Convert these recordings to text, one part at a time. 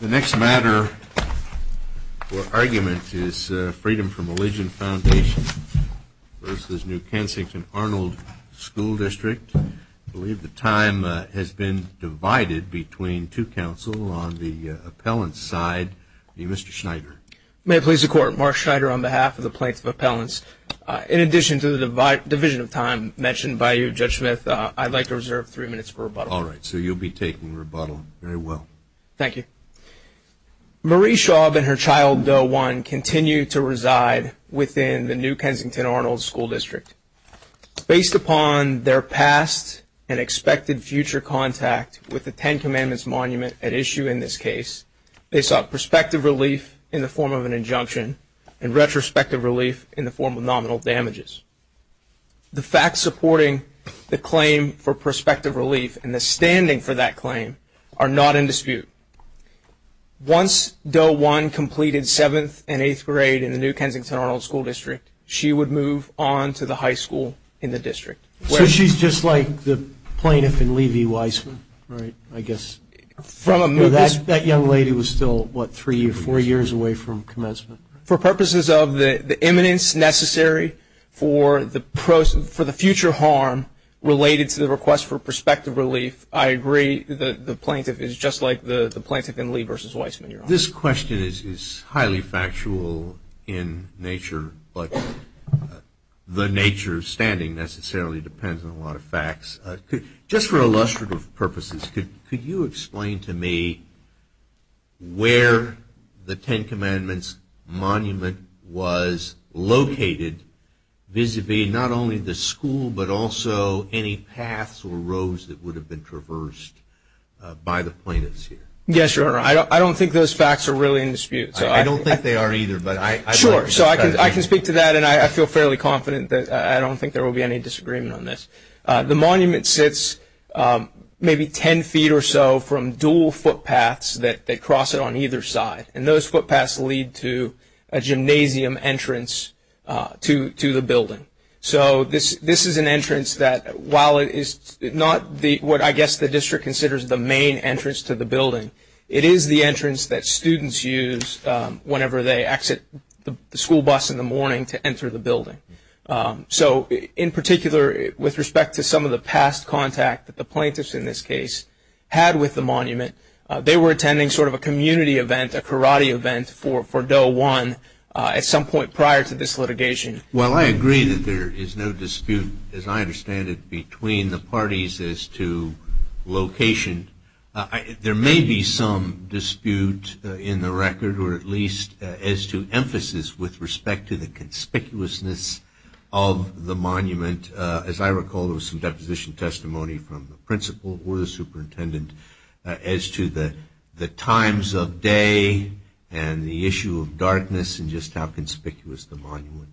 The next matter or argument is Freedom From Religion Foundation v. New Kensington Arnold School District. I believe the time has been divided between two counsel on the appellant's side. Mr. Schneider. May it please the Court, Mark Schneider on behalf of the Plaintiff Appellants. In addition to the division of time mentioned by you, Judge Smith, I'd like to reserve three minutes for rebuttal. All right, so you'll be taking rebuttal very well. Thank you. Marie Schaub and her child, Doe 1, continue to reside within the New Kensington Arnold School District. Based upon their past and expected future contact with the Ten Commandments monument at issue in this case, they sought prospective relief in the form of an injunction and retrospective relief in the form of nominal damages. The facts supporting the claim for prospective relief and the standing for that claim are not in dispute. Once Doe 1 completed 7th and 8th grade in the New Kensington Arnold School District, she would move on to the high school in the district. So she's just like the plaintiff in Levi Weissman, right, I guess? That young lady was still, what, three or four years away from commencement? For purposes of the eminence necessary for the future harm related to the request for prospective relief, I agree the plaintiff is just like the plaintiff in Levi Weissman. This question is highly factual in nature, but the nature of standing necessarily depends on a lot of facts. Just for illustrative purposes, could you explain to me where the Ten Commandments monument was located, vis-à-vis not only the school but also any paths or roads that would have been traversed by the plaintiffs here? Yes, Your Honor, I don't think those facts are really in dispute. I don't think they are either. Sure, so I can speak to that, and I feel fairly confident that I don't think there will be any disagreement on this. The monument sits maybe ten feet or so from dual footpaths that cross it on either side, and those footpaths lead to a gymnasium entrance to the building. So this is an entrance that, while it is not what I guess the district considers the main entrance to the building, it is the entrance that students use whenever they exit the school bus in the morning to enter the building. So in particular, with respect to some of the past contact that the plaintiffs in this case had with the monument, they were attending sort of a community event, a karate event for Doe 1 at some point prior to this litigation. Well, I agree that there is no dispute, as I understand it, between the parties as to location. There may be some dispute in the record, or at least as to emphasis with respect to the conspicuousness of the monument. As I recall, there was some deposition testimony from the principal or the superintendent as to the times of day and the issue of darkness and just how conspicuous the monument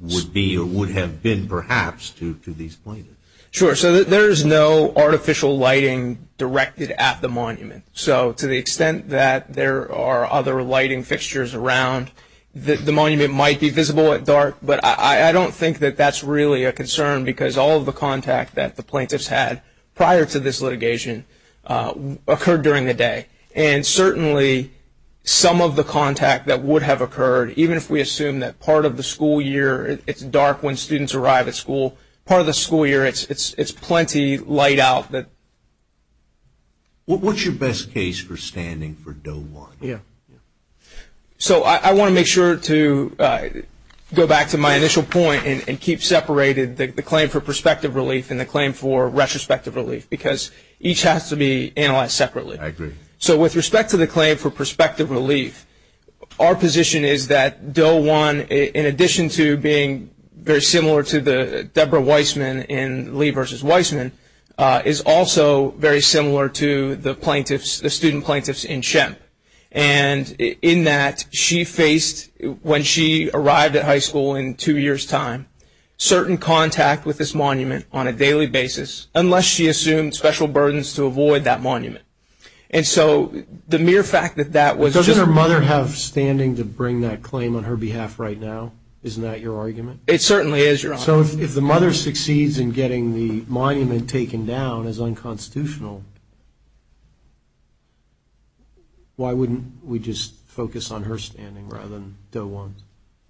would be or would have been, perhaps, to these plaintiffs. Sure. So there is no artificial lighting directed at the monument. So to the extent that there are other lighting fixtures around, the monument might be visible at dark, but I don't think that that's really a concern because all of the contact that the plaintiffs had prior to this litigation occurred during the day. And certainly some of the contact that would have occurred, even if we assume that part of the school year it's dark when students arrive at school, part of the school year it's plenty light out. What's your best case for standing for Doe 1? So I want to make sure to go back to my initial point and keep separated the claim for prospective relief and the claim for retrospective relief because each has to be analyzed separately. I agree. So with respect to the claim for prospective relief, our position is that Doe 1, in addition to being very similar to the Deborah Weissman in Lee v. Weissman, is also very similar to the plaintiffs, the student plaintiffs in Shemp. And in that, she faced, when she arrived at high school in two years' time, certain contact with this monument on a daily basis unless she assumed special burdens to avoid that monument. And so the mere fact that that was just a monument. Doesn't her mother have standing to bring that claim on her behalf right now? Isn't that your argument? It certainly is, Your Honor. So if the mother succeeds in getting the monument taken down as unconstitutional, why wouldn't we just focus on her standing rather than Doe 1?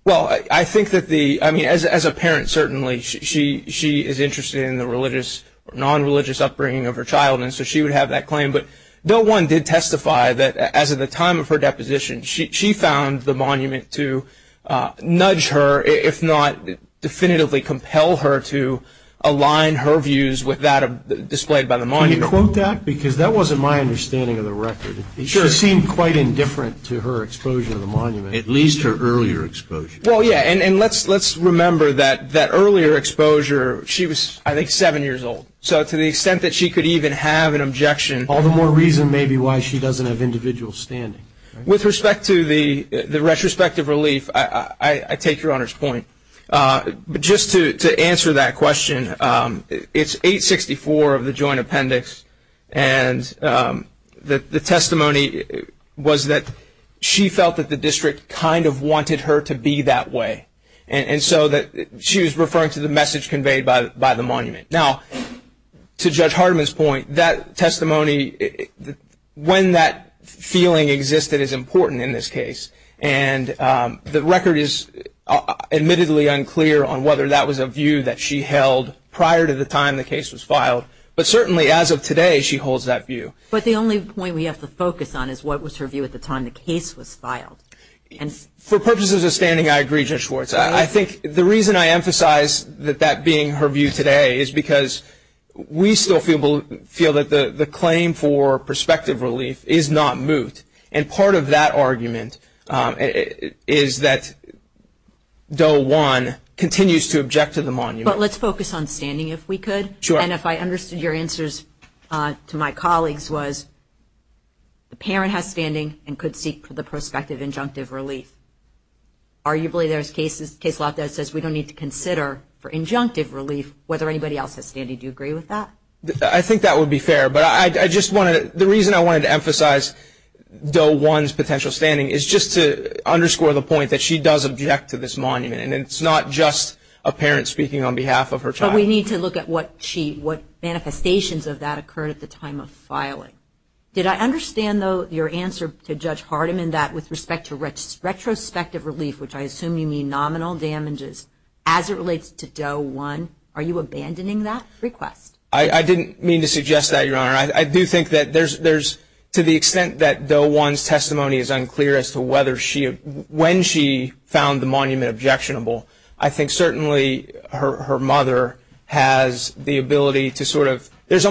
Well, I think that the – I mean, as a parent, certainly, she is interested in the religious or non-religious upbringing of her child, and so she would have that claim. But Doe 1 did testify that, as of the time of her deposition, she found the monument to nudge her, if not definitively compel her, to align her views with that displayed by the monument. Can you quote that? Because that wasn't my understanding of the record. She seemed quite indifferent to her exposure to the monument, at least her earlier exposure. Well, yeah, and let's remember that that earlier exposure, she was, I think, seven years old. So to the extent that she could even have an objection, all the more reason maybe why she doesn't have individual standing. With respect to the retrospective relief, I take Your Honor's point. But just to answer that question, it's 864 of the Joint Appendix, and the testimony was that she felt that the district kind of wanted her to be that way, and so she was referring to the message conveyed by the monument. Now, to Judge Hardiman's point, that testimony, when that feeling existed, is important in this case. And the record is admittedly unclear on whether that was a view that she held prior to the time the case was filed. But certainly, as of today, she holds that view. But the only point we have to focus on is what was her view at the time the case was filed. For purposes of standing, I agree, Judge Schwartz. I think the reason I emphasize that that being her view today is because we still feel that the claim for prospective relief is not moot. And part of that argument is that Doe 1 continues to object to the monument. But let's focus on standing, if we could. Sure. And if I understood your answers to my colleagues was the parent has standing and could seek the prospective injunctive relief. Arguably, there's cases, case law that says we don't need to consider for injunctive relief, whether anybody else has standing. Do you agree with that? I think that would be fair. But I just wanted to, the reason I wanted to emphasize Doe 1's potential standing is just to underscore the point that she does object to this monument. And it's not just a parent speaking on behalf of her child. But we need to look at what she, what manifestations of that occurred at the time of filing. Did I understand, though, your answer to Judge Hardiman that with respect to retrospective relief, which I assume you mean nominal damages, as it relates to Doe 1, are you abandoning that request? I didn't mean to suggest that, Your Honor. I do think that there's, to the extent that Doe 1's testimony is unclear as to whether she, when she found the monument objectionable, I think certainly her mother has the ability to sort of, What's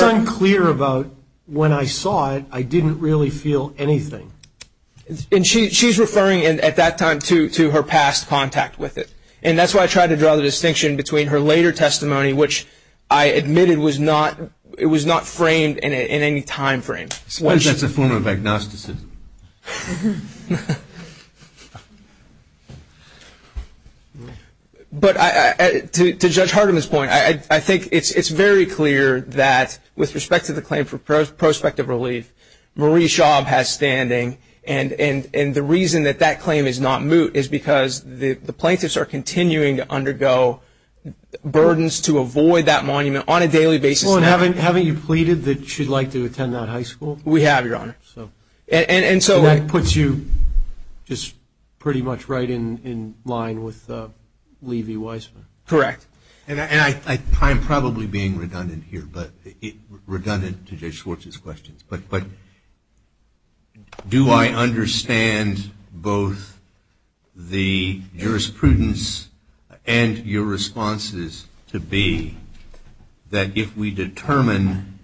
unclear about when I saw it, I didn't really feel anything? And she's referring at that time to her past contact with it. And that's why I tried to draw the distinction between her later testimony, which I admitted was not, it was not framed in any time frame. Suppose that's a form of agnosticism. But to Judge Hardiman's point, I think it's very clear that with respect to the claim for prospective relief, Marie Schaub has standing. And the reason that that claim is not moot is because the plaintiffs are continuing to undergo burdens to avoid that monument on a daily basis. Well, and haven't you pleaded that she'd like to attend that high school? We have, Your Honor. And so that puts you just pretty much right in line with Levy-Weisman. Correct. And I'm probably being redundant here, but redundant to Judge Schwartz's questions. But do I understand both the jurisprudence and your responses to be that if we determine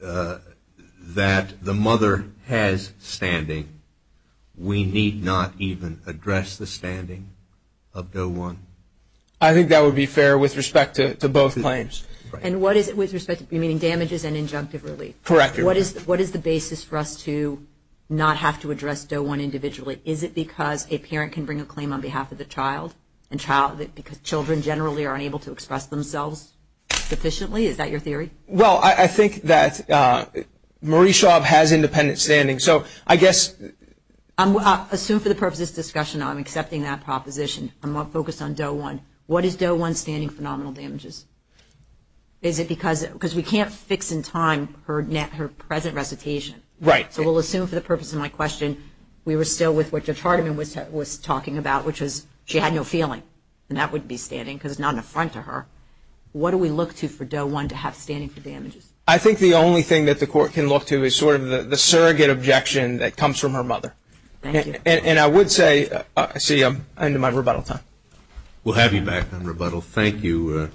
that the mother has standing, we need not even address the standing of Doe 1? I think that would be fair with respect to both claims. And what is it with respect to damages and injunctive relief? Correct. What is the basis for us to not have to address Doe 1 individually? Is it because a parent can bring a claim on behalf of the child and children generally are unable to express themselves sufficiently? Is that your theory? Well, I think that Marie Schaub has independent standing. So I guess – I assume for the purpose of this discussion I'm accepting that proposition. I'm going to focus on Doe 1. What is Doe 1's standing for nominal damages? Is it because we can't fix in time her present recitation? Right. So we'll assume for the purpose of my question we were still with what Judge Hardiman was talking about, which was she had no feeling. And that would be standing because it's not an affront to her. What do we look to for Doe 1 to have standing for damages? I think the only thing that the Court can look to is sort of the surrogate objection that comes from her mother. Thank you. And I would say – see, I'm into my rebuttal time. We'll have you back on rebuttal. Well, thank you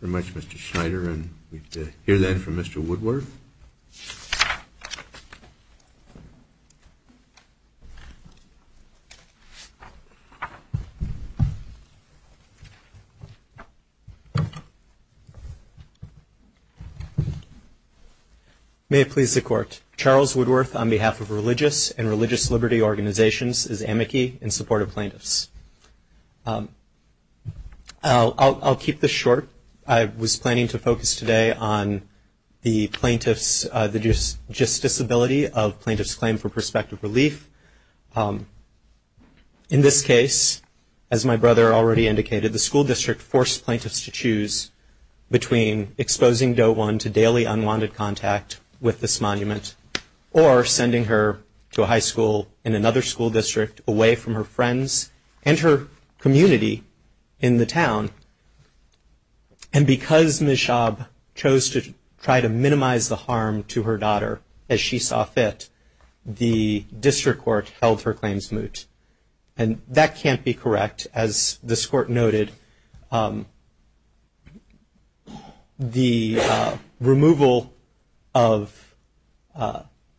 very much, Mr. Schneider. And we can hear that from Mr. Woodworth. Charles Woodworth, on behalf of Religious and Religious Liberty Organizations, is amici in support of plaintiffs. I'll keep this short. I was planning to focus today on the plaintiff's – the just disability of plaintiff's claim for prospective relief. In this case, as my brother already indicated, the school district forced plaintiffs to choose between exposing Doe 1 to daily unwanted contact with this monument or sending her to a high school in another school district away from her friends and her community in the town. And because Ms. Schaub chose to try to minimize the harm to her daughter as she saw fit, the district court held her claims moot. And that can't be correct. As this court noted, the removal of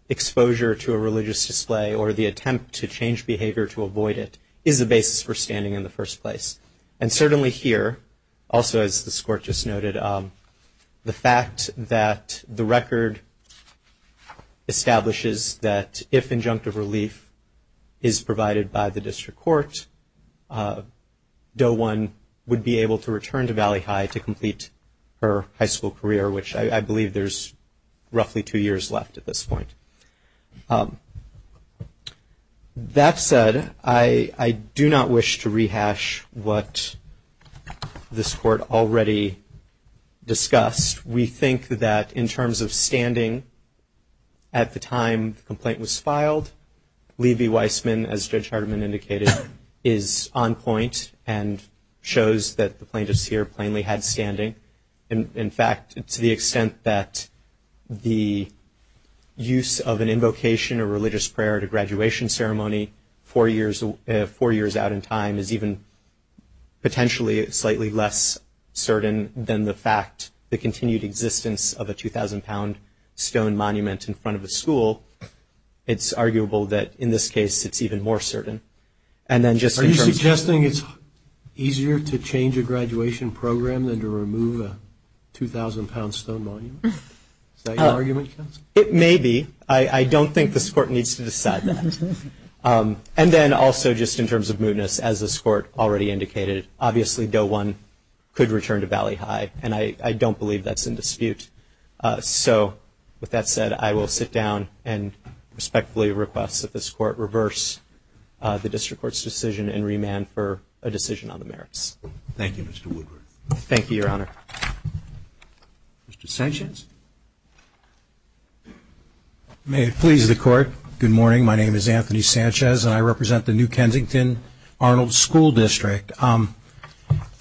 exposure to a religious display or the attempt to change behavior to avoid it is the basis for standing in the first place. And certainly here, also as this court just noted, the fact that the record establishes that if injunctive relief is provided by the district court, Doe 1 would be able to return to Valley High to complete her high school career, which I believe there's roughly two years left at this point. That said, I do not wish to rehash what this court already discussed. We think that in terms of standing at the time the complaint was filed, Levi Weissman, as Judge Hardiman indicated, is on point and shows that the plaintiffs here plainly had standing. In fact, to the extent that the use of an invocation or religious prayer at a graduation ceremony four years out in time is even potentially slightly less certain than the fact the continued existence of a 2,000-pound stone monument in front of a school, it's arguable that in this case it's even more certain. Are you suggesting it's easier to change a graduation program than to remove a 2,000-pound stone monument? Is that your argument? It may be. I don't think this court needs to decide that. And then also just in terms of mootness, as this court already indicated, obviously Doe 1 could return to Valley High, and I don't believe that's in dispute. So with that said, I will sit down and respectfully request that this court reverse the district court's decision and remand for a decision on the merits. Thank you, Mr. Woodruff. Thank you, Your Honor. Mr. Sanchez? May it please the Court, good morning. My name is Anthony Sanchez, and I represent the New Kensington Arnold School District. I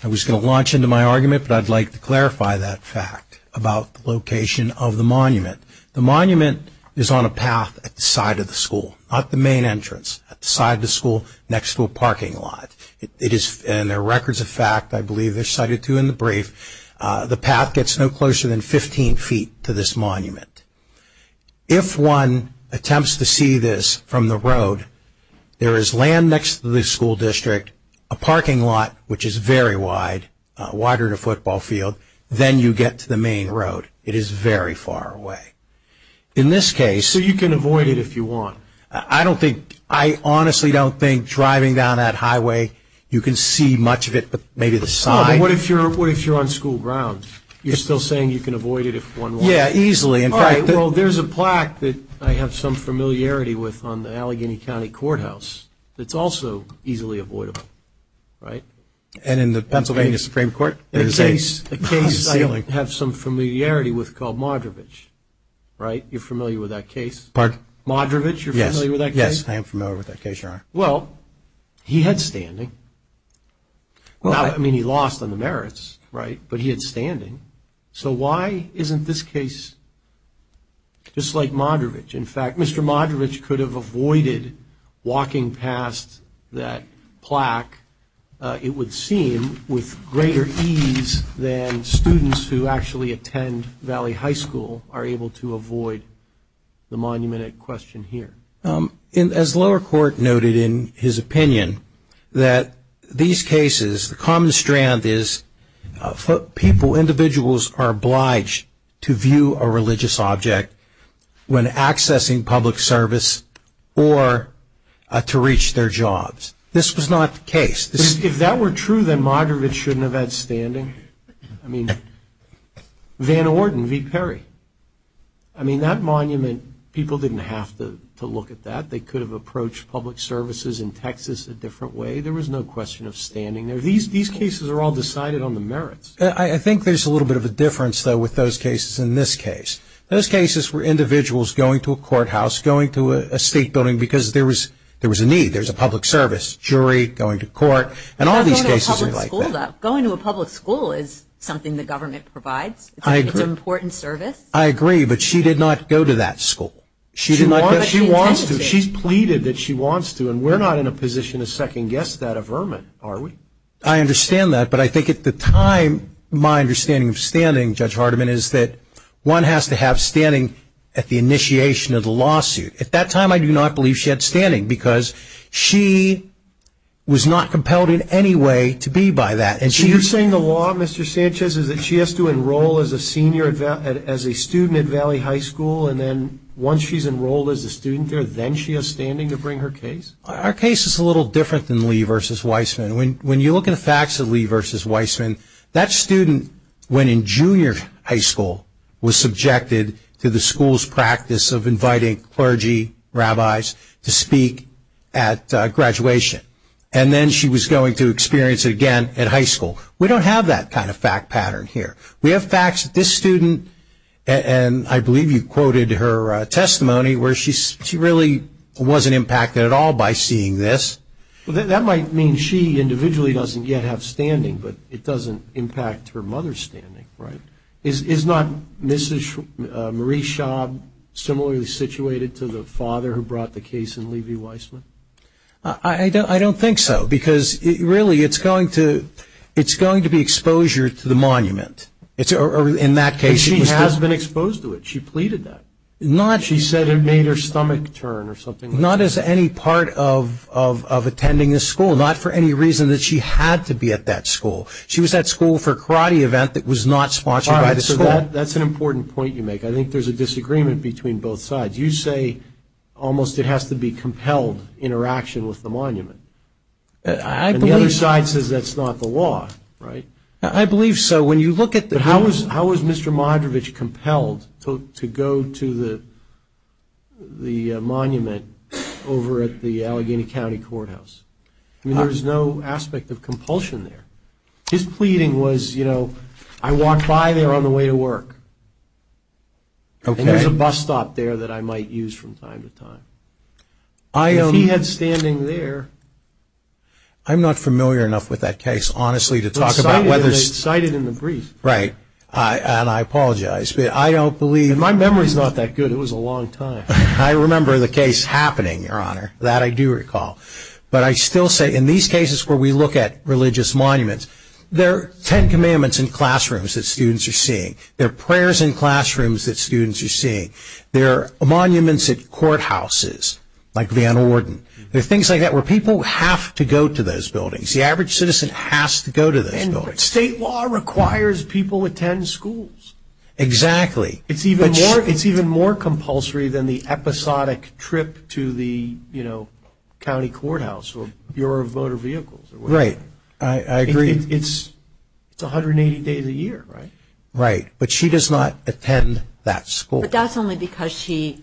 was going to launch into my argument, but I'd like to clarify that fact about the location of the monument. The monument is on a path at the side of the school, not the main entrance, at the side of the school next to a parking lot, and there are records of fact, I believe they're cited too in the brief, the path gets no closer than 15 feet to this monument. If one attempts to see this from the road, there is land next to the school district, a parking lot, which is very wide, wider than a football field, then you get to the main road. It is very far away. In this case- So you can avoid it if you want? I don't think, I honestly don't think driving down that highway, you can see much of it, but maybe the side- Oh, but what if you're on school ground? You're still saying you can avoid it if one wants to? Yeah, easily. All right, well, there's a plaque that I have some familiarity with on the Allegheny County Courthouse that's also easily avoidable, right? And in the Pennsylvania Supreme Court, there's a case- A case I have some familiarity with called Modrovich, right? You're familiar with that case? Pardon? Modrovich, you're familiar with that case? Yes, I am familiar with that case, Your Honor. Well, he had standing. I mean, he lost on the merits, right? But he had standing. So why isn't this case just like Modrovich? In fact, Mr. Modrovich could have avoided walking past that plaque, it would seem, with greater ease than students who actually attend Valley High School are able to avoid the monument at question here. As lower court noted in his opinion, that these cases, the common strand is people, individuals are obliged to view a religious object when accessing public service or to reach their jobs. This was not the case. If that were true, then Modrovich shouldn't have had standing. I mean, Van Orden v. Perry. I mean, that monument, people didn't have to look at that. They could have approached public services in Texas a different way. There was no question of standing there. These cases are all decided on the merits. I think there's a little bit of a difference, though, with those cases in this case. Those cases were individuals going to a courthouse, going to a state building because there was a need. There was a public service, jury, going to court, and all these cases are like that. Going to a public school is something the government provides. It's an important service. I agree, but she did not go to that school. She's pleaded that she wants to, and we're not in a position to second guess that averment, are we? I understand that, but I think at the time, my understanding of standing, Judge Hardiman, is that one has to have standing at the initiation of the lawsuit. At that time, I do not believe she had standing because she was not compelled in any way to be by that. So you're saying the law, Mr. Sanchez, is that she has to enroll as a student at Valley High School, and then once she's enrolled as a student there, then she has standing to bring her case? Our case is a little different than Lee v. Weissman. When you look at the facts of Lee v. Weissman, that student, when in junior high school, was subjected to the school's practice of inviting clergy, rabbis, to speak at graduation, and then she was going to experience it again at high school. We don't have that kind of fact pattern here. We have facts that this student, and I believe you quoted her testimony, where she really wasn't impacted at all by seeing this. Well, that might mean she individually doesn't yet have standing, but it doesn't impact her mother's standing, right? Is not Mrs. Marie Schaub similarly situated to the father who brought the case in Lee v. Weissman? I don't think so, because really it's going to be exposure to the monument, or in that case. But she has been exposed to it. She pleaded that. She said it made her stomach turn or something like that. But not as any part of attending the school, not for any reason that she had to be at that school. She was at school for a karate event that was not sponsored by the school. All right, so that's an important point you make. I think there's a disagreement between both sides. You say almost it has to be compelled interaction with the monument. And the other side says that's not the law, right? I believe so. How is Mr. Modrovich compelled to go to the monument over at the Allegheny County Courthouse? I mean, there's no aspect of compulsion there. His pleading was, you know, I walk by there on the way to work, and there's a bus stop there that I might use from time to time. If he had standing there. I'm not familiar enough with that case, honestly, to talk about whether. They cite it in the brief. Right. And I apologize. But I don't believe. My memory is not that good. It was a long time. I remember the case happening, Your Honor. That I do recall. But I still say in these cases where we look at religious monuments, there are ten commandments in classrooms that students are seeing. There are prayers in classrooms that students are seeing. There are monuments at courthouses like Van Orden. There are things like that where people have to go to those buildings. The average citizen has to go to those buildings. State law requires people attend schools. Exactly. It's even more compulsory than the episodic trip to the, you know, county courthouse or Bureau of Motor Vehicles. Right. I agree. It's 180 days a year, right? Right. But she does not attend that school. But that's only because she,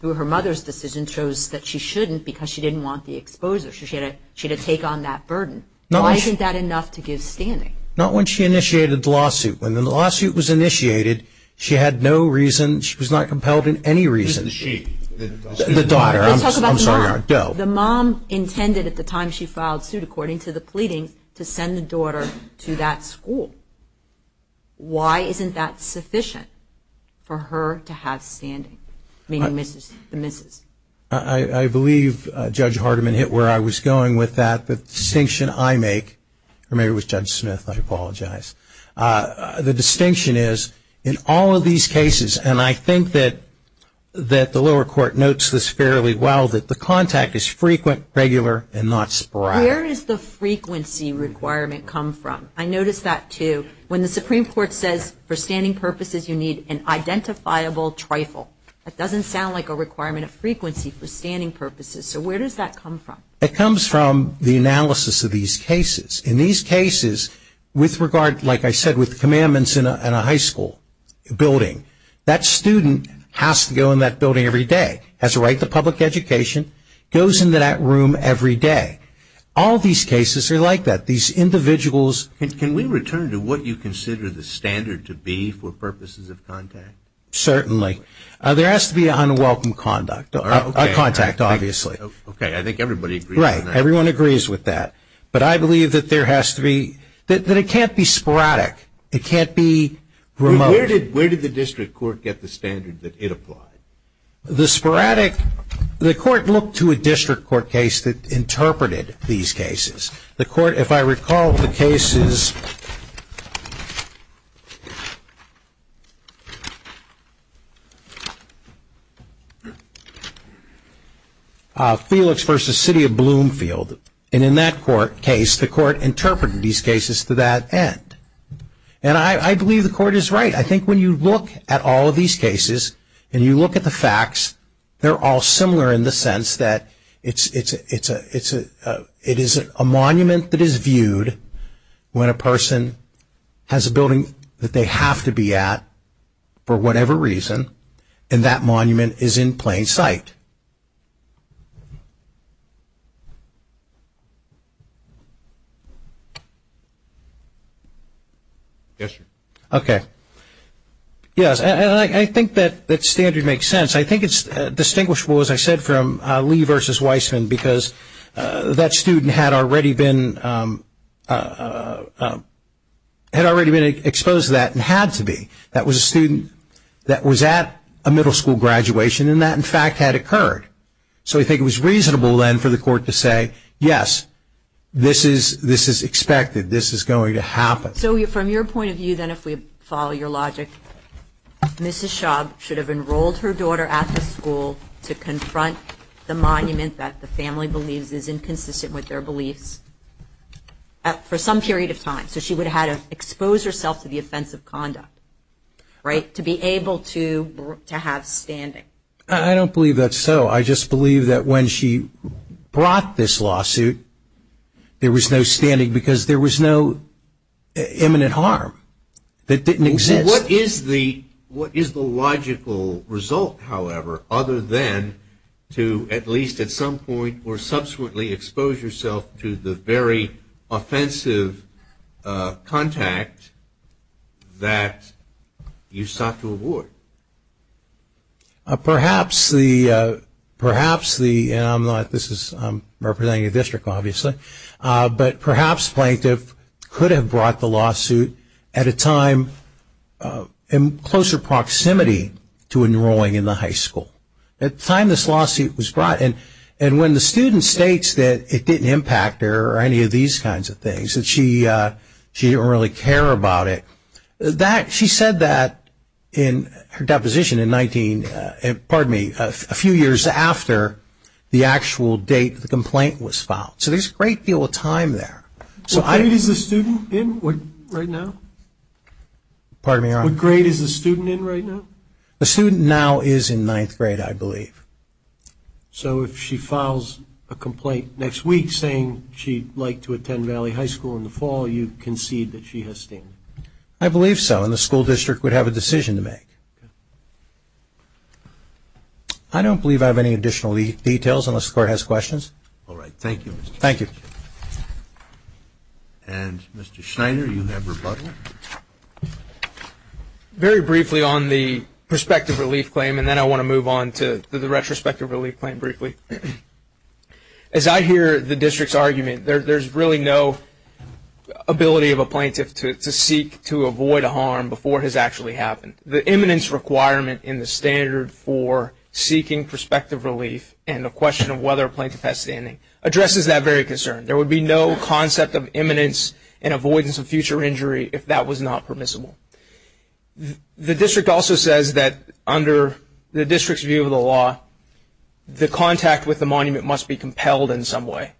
through her mother's decision, chose that she shouldn't because she didn't want the exposure. So she had to take on that burden. Why isn't that enough to give standing? Not when she initiated the lawsuit. When the lawsuit was initiated, she had no reason. She was not compelled in any reason. Who's the she? The daughter. Let's talk about the mom. I'm sorry, Your Honor. Go. The mom intended at the time she filed suit, according to the pleading, to send the daughter to that school. Why isn't that sufficient for her to have standing, meaning the missus? I believe Judge Hardiman hit where I was going with that. The distinction I make, or maybe it was Judge Smith. I apologize. The distinction is, in all of these cases, and I think that the lower court notes this fairly well, that the contact is frequent, regular, and not sporadic. Where does the frequency requirement come from? I noticed that, too. When the Supreme Court says, for standing purposes, you need an identifiable trifle, that doesn't sound like a requirement of frequency for standing purposes. So where does that come from? It comes from the analysis of these cases. In these cases, with regard, like I said, with commandments in a high school building, that student has to go in that building every day, has a right to public education, goes into that room every day. All these cases are like that. These individuals. Can we return to what you consider the standard to be for purposes of contact? Certainly. There has to be unwelcome contact, obviously. Okay. I think everybody agrees. Right. Everyone agrees with that. But I believe that there has to be, that it can't be sporadic. It can't be remote. Where did the district court get the standard that it applied? The sporadic, the court looked to a district court case that interpreted these cases. The court, if I recall the cases, Felix versus City of Bloomfield. And in that court case, the court interpreted these cases to that end. And I believe the court is right. I think when you look at all of these cases, and you look at the facts, they're all similar in the sense that it is a monument that is viewed when a person has a building that they have to be at for whatever reason, and that monument is in plain sight. Yes, sir. Okay. Yes, and I think that standard makes sense. I think it's distinguishable, as I said, from Lee versus Weissman, because that student had already been exposed to that and had to be. That was a student that was at a middle school graduation, and that, in fact, had occurred. So I think it was reasonable then for the court to say, yes, this is expected. This is going to happen. So from your point of view then, if we follow your logic, Mrs. Schaub should have enrolled her daughter at the school to confront the monument that the family believes is inconsistent with their beliefs for some period of time. So she would have had to expose herself to the offense of conduct, right, to be able to have standing. I don't believe that's so. I just believe that when she brought this lawsuit, there was no standing, because there was no imminent harm that didn't exist. So what is the logical result, however, other than to at least at some point or subsequently expose yourself to the very offensive contact that you sought to avoid? Perhaps the ‑‑ I'm representing a district, obviously, but perhaps plaintiff could have brought the lawsuit at a time in closer proximity to enrolling in the high school, at the time this lawsuit was brought. And when the student states that it didn't impact her or any of these kinds of things, that she didn't really care about it, she said that in her deposition in 19 ‑‑ pardon me, a few years after the actual date the complaint was filed. So there's a great deal of time there. So I ‑‑ What grade is the student in right now? Pardon me, Your Honor? What grade is the student in right now? The student now is in ninth grade, I believe. So if she files a complaint next week saying she'd like to attend Valley High School in the fall, you concede that she has standing? I believe so, and the school district would have a decision to make. Okay. I don't believe I have any additional details unless the Court has questions. All right. Thank you. Thank you. And, Mr. Schneider, you have rebuttal? Very briefly on the prospective relief claim, and then I want to move on to the retrospective relief claim briefly. As I hear the district's argument, there's really no ability of a plaintiff to seek to avoid a harm before it has actually happened. The eminence requirement in the standard for seeking prospective relief and the question of whether a plaintiff has standing addresses that very concern. There would be no concept of eminence and avoidance of future injury if that was not permissible. The district also says that under the district's view of the law, the contact with the monument must be compelled in some way.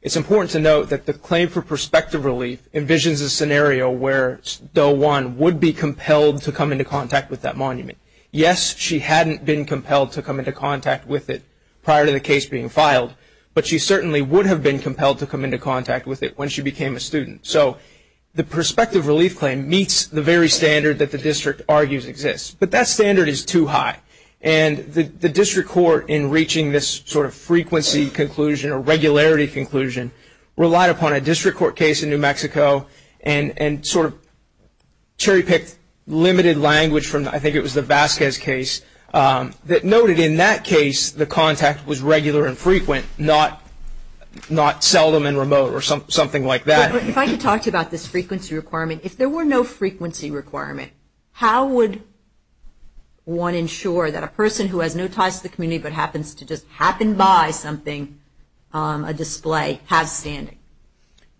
It's important to note that the claim for prospective relief envisions a scenario where Doe 1 would be compelled to come into contact with that monument. Yes, she hadn't been compelled to come into contact with it prior to the case being filed, but she certainly would have been compelled to come into contact with it when she became a student. So the prospective relief claim meets the very standard that the district argues exists, but that standard is too high. And the district court, in reaching this sort of frequency conclusion or regularity conclusion, relied upon a district court case in New Mexico and sort of cherry-picked limited language from, I think it was the Vasquez case, that noted in that case the contact was regular and frequent, not seldom and remote or something like that. If I could talk to you about this frequency requirement. If there were no frequency requirement, how would one ensure that a person who has no ties to the community but happens to just happen by something, a display, has standing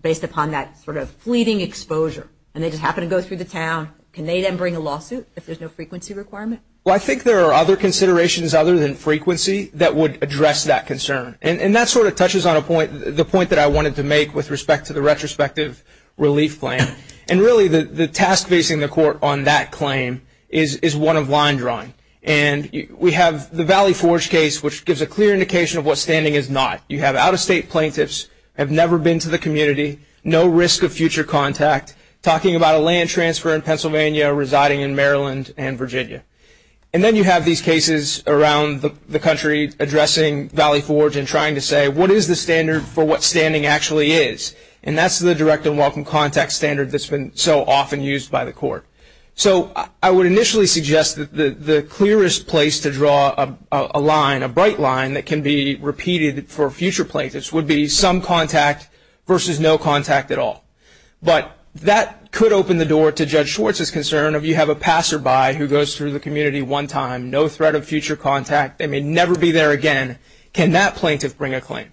based upon that sort of fleeting exposure and they just happen to go through the town, can they then bring a lawsuit if there's no frequency requirement? Well, I think there are other considerations other than frequency that would address that concern. And that sort of touches on the point that I wanted to make with respect to the retrospective relief claim. And really the task facing the court on that claim is one of line drawing. And we have the Valley Forge case, which gives a clear indication of what standing is not. You have out-of-state plaintiffs, have never been to the community, no risk of future contact, talking about a land transfer in Pennsylvania, residing in Maryland and Virginia. And then you have these cases around the country addressing Valley Forge and trying to say what is the standard for what standing actually is. And that's the direct and welcome contact standard that's been so often used by the court. So I would initially suggest that the clearest place to draw a line, a bright line, that can be repeated for future plaintiffs would be some contact versus no contact at all. But that could open the door to Judge Schwartz's concern if you have a passerby who goes through the community one time, no threat of future contact, they may never be there again, can that plaintiff bring a claim?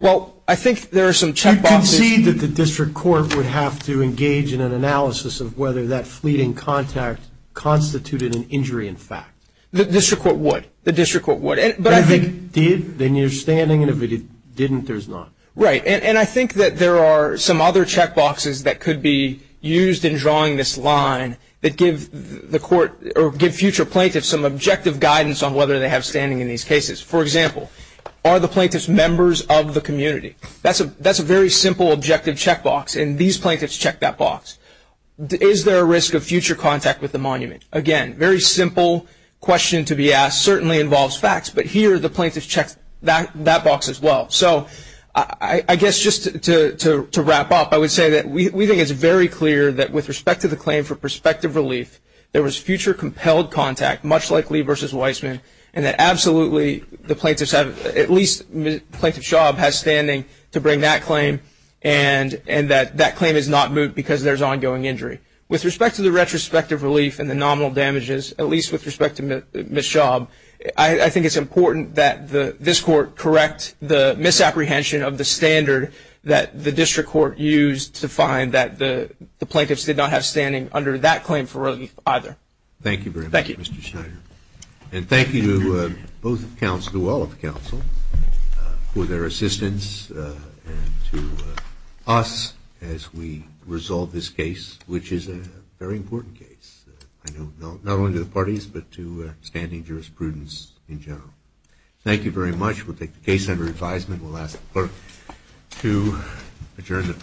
I concede that the district court would have to engage in an analysis of whether that fleeting contact constituted an injury in fact. The district court would. The district court would. If it did, then you're standing. And if it didn't, there's not. Right. And I think that there are some other check boxes that could be used in drawing this line that give the court or give future plaintiffs some objective guidance on whether they have standing in these cases. For example, are the plaintiffs members of the community? That's a very simple objective check box, and these plaintiffs check that box. Is there a risk of future contact with the monument? Again, very simple question to be asked. Certainly involves facts, but here the plaintiff checks that box as well. So I guess just to wrap up, I would say that we think it's very clear that with respect to the claim for prospective relief, there was future compelled contact, much like Lee versus Weissman, and that absolutely the plaintiffs have at least plaintiff Schaub has standing to bring that claim and that that claim is not moot because there's ongoing injury. With respect to the retrospective relief and the nominal damages, at least with respect to Ms. Schaub, I think it's important that this court correct the misapprehension of the standard that the district court used to find that the plaintiffs did not have standing under that claim for relief either. Thank you very much, Mr. Schneider. Thank you. And thank you to both of the counsel, to all of the counsel for their assistance and to us as we resolve this case, which is a very important case. Not only to the parties, but to standing jurisprudence in general. Thank you very much. We'll take the case under advisement. We'll ask the clerk to adjourn the hearing.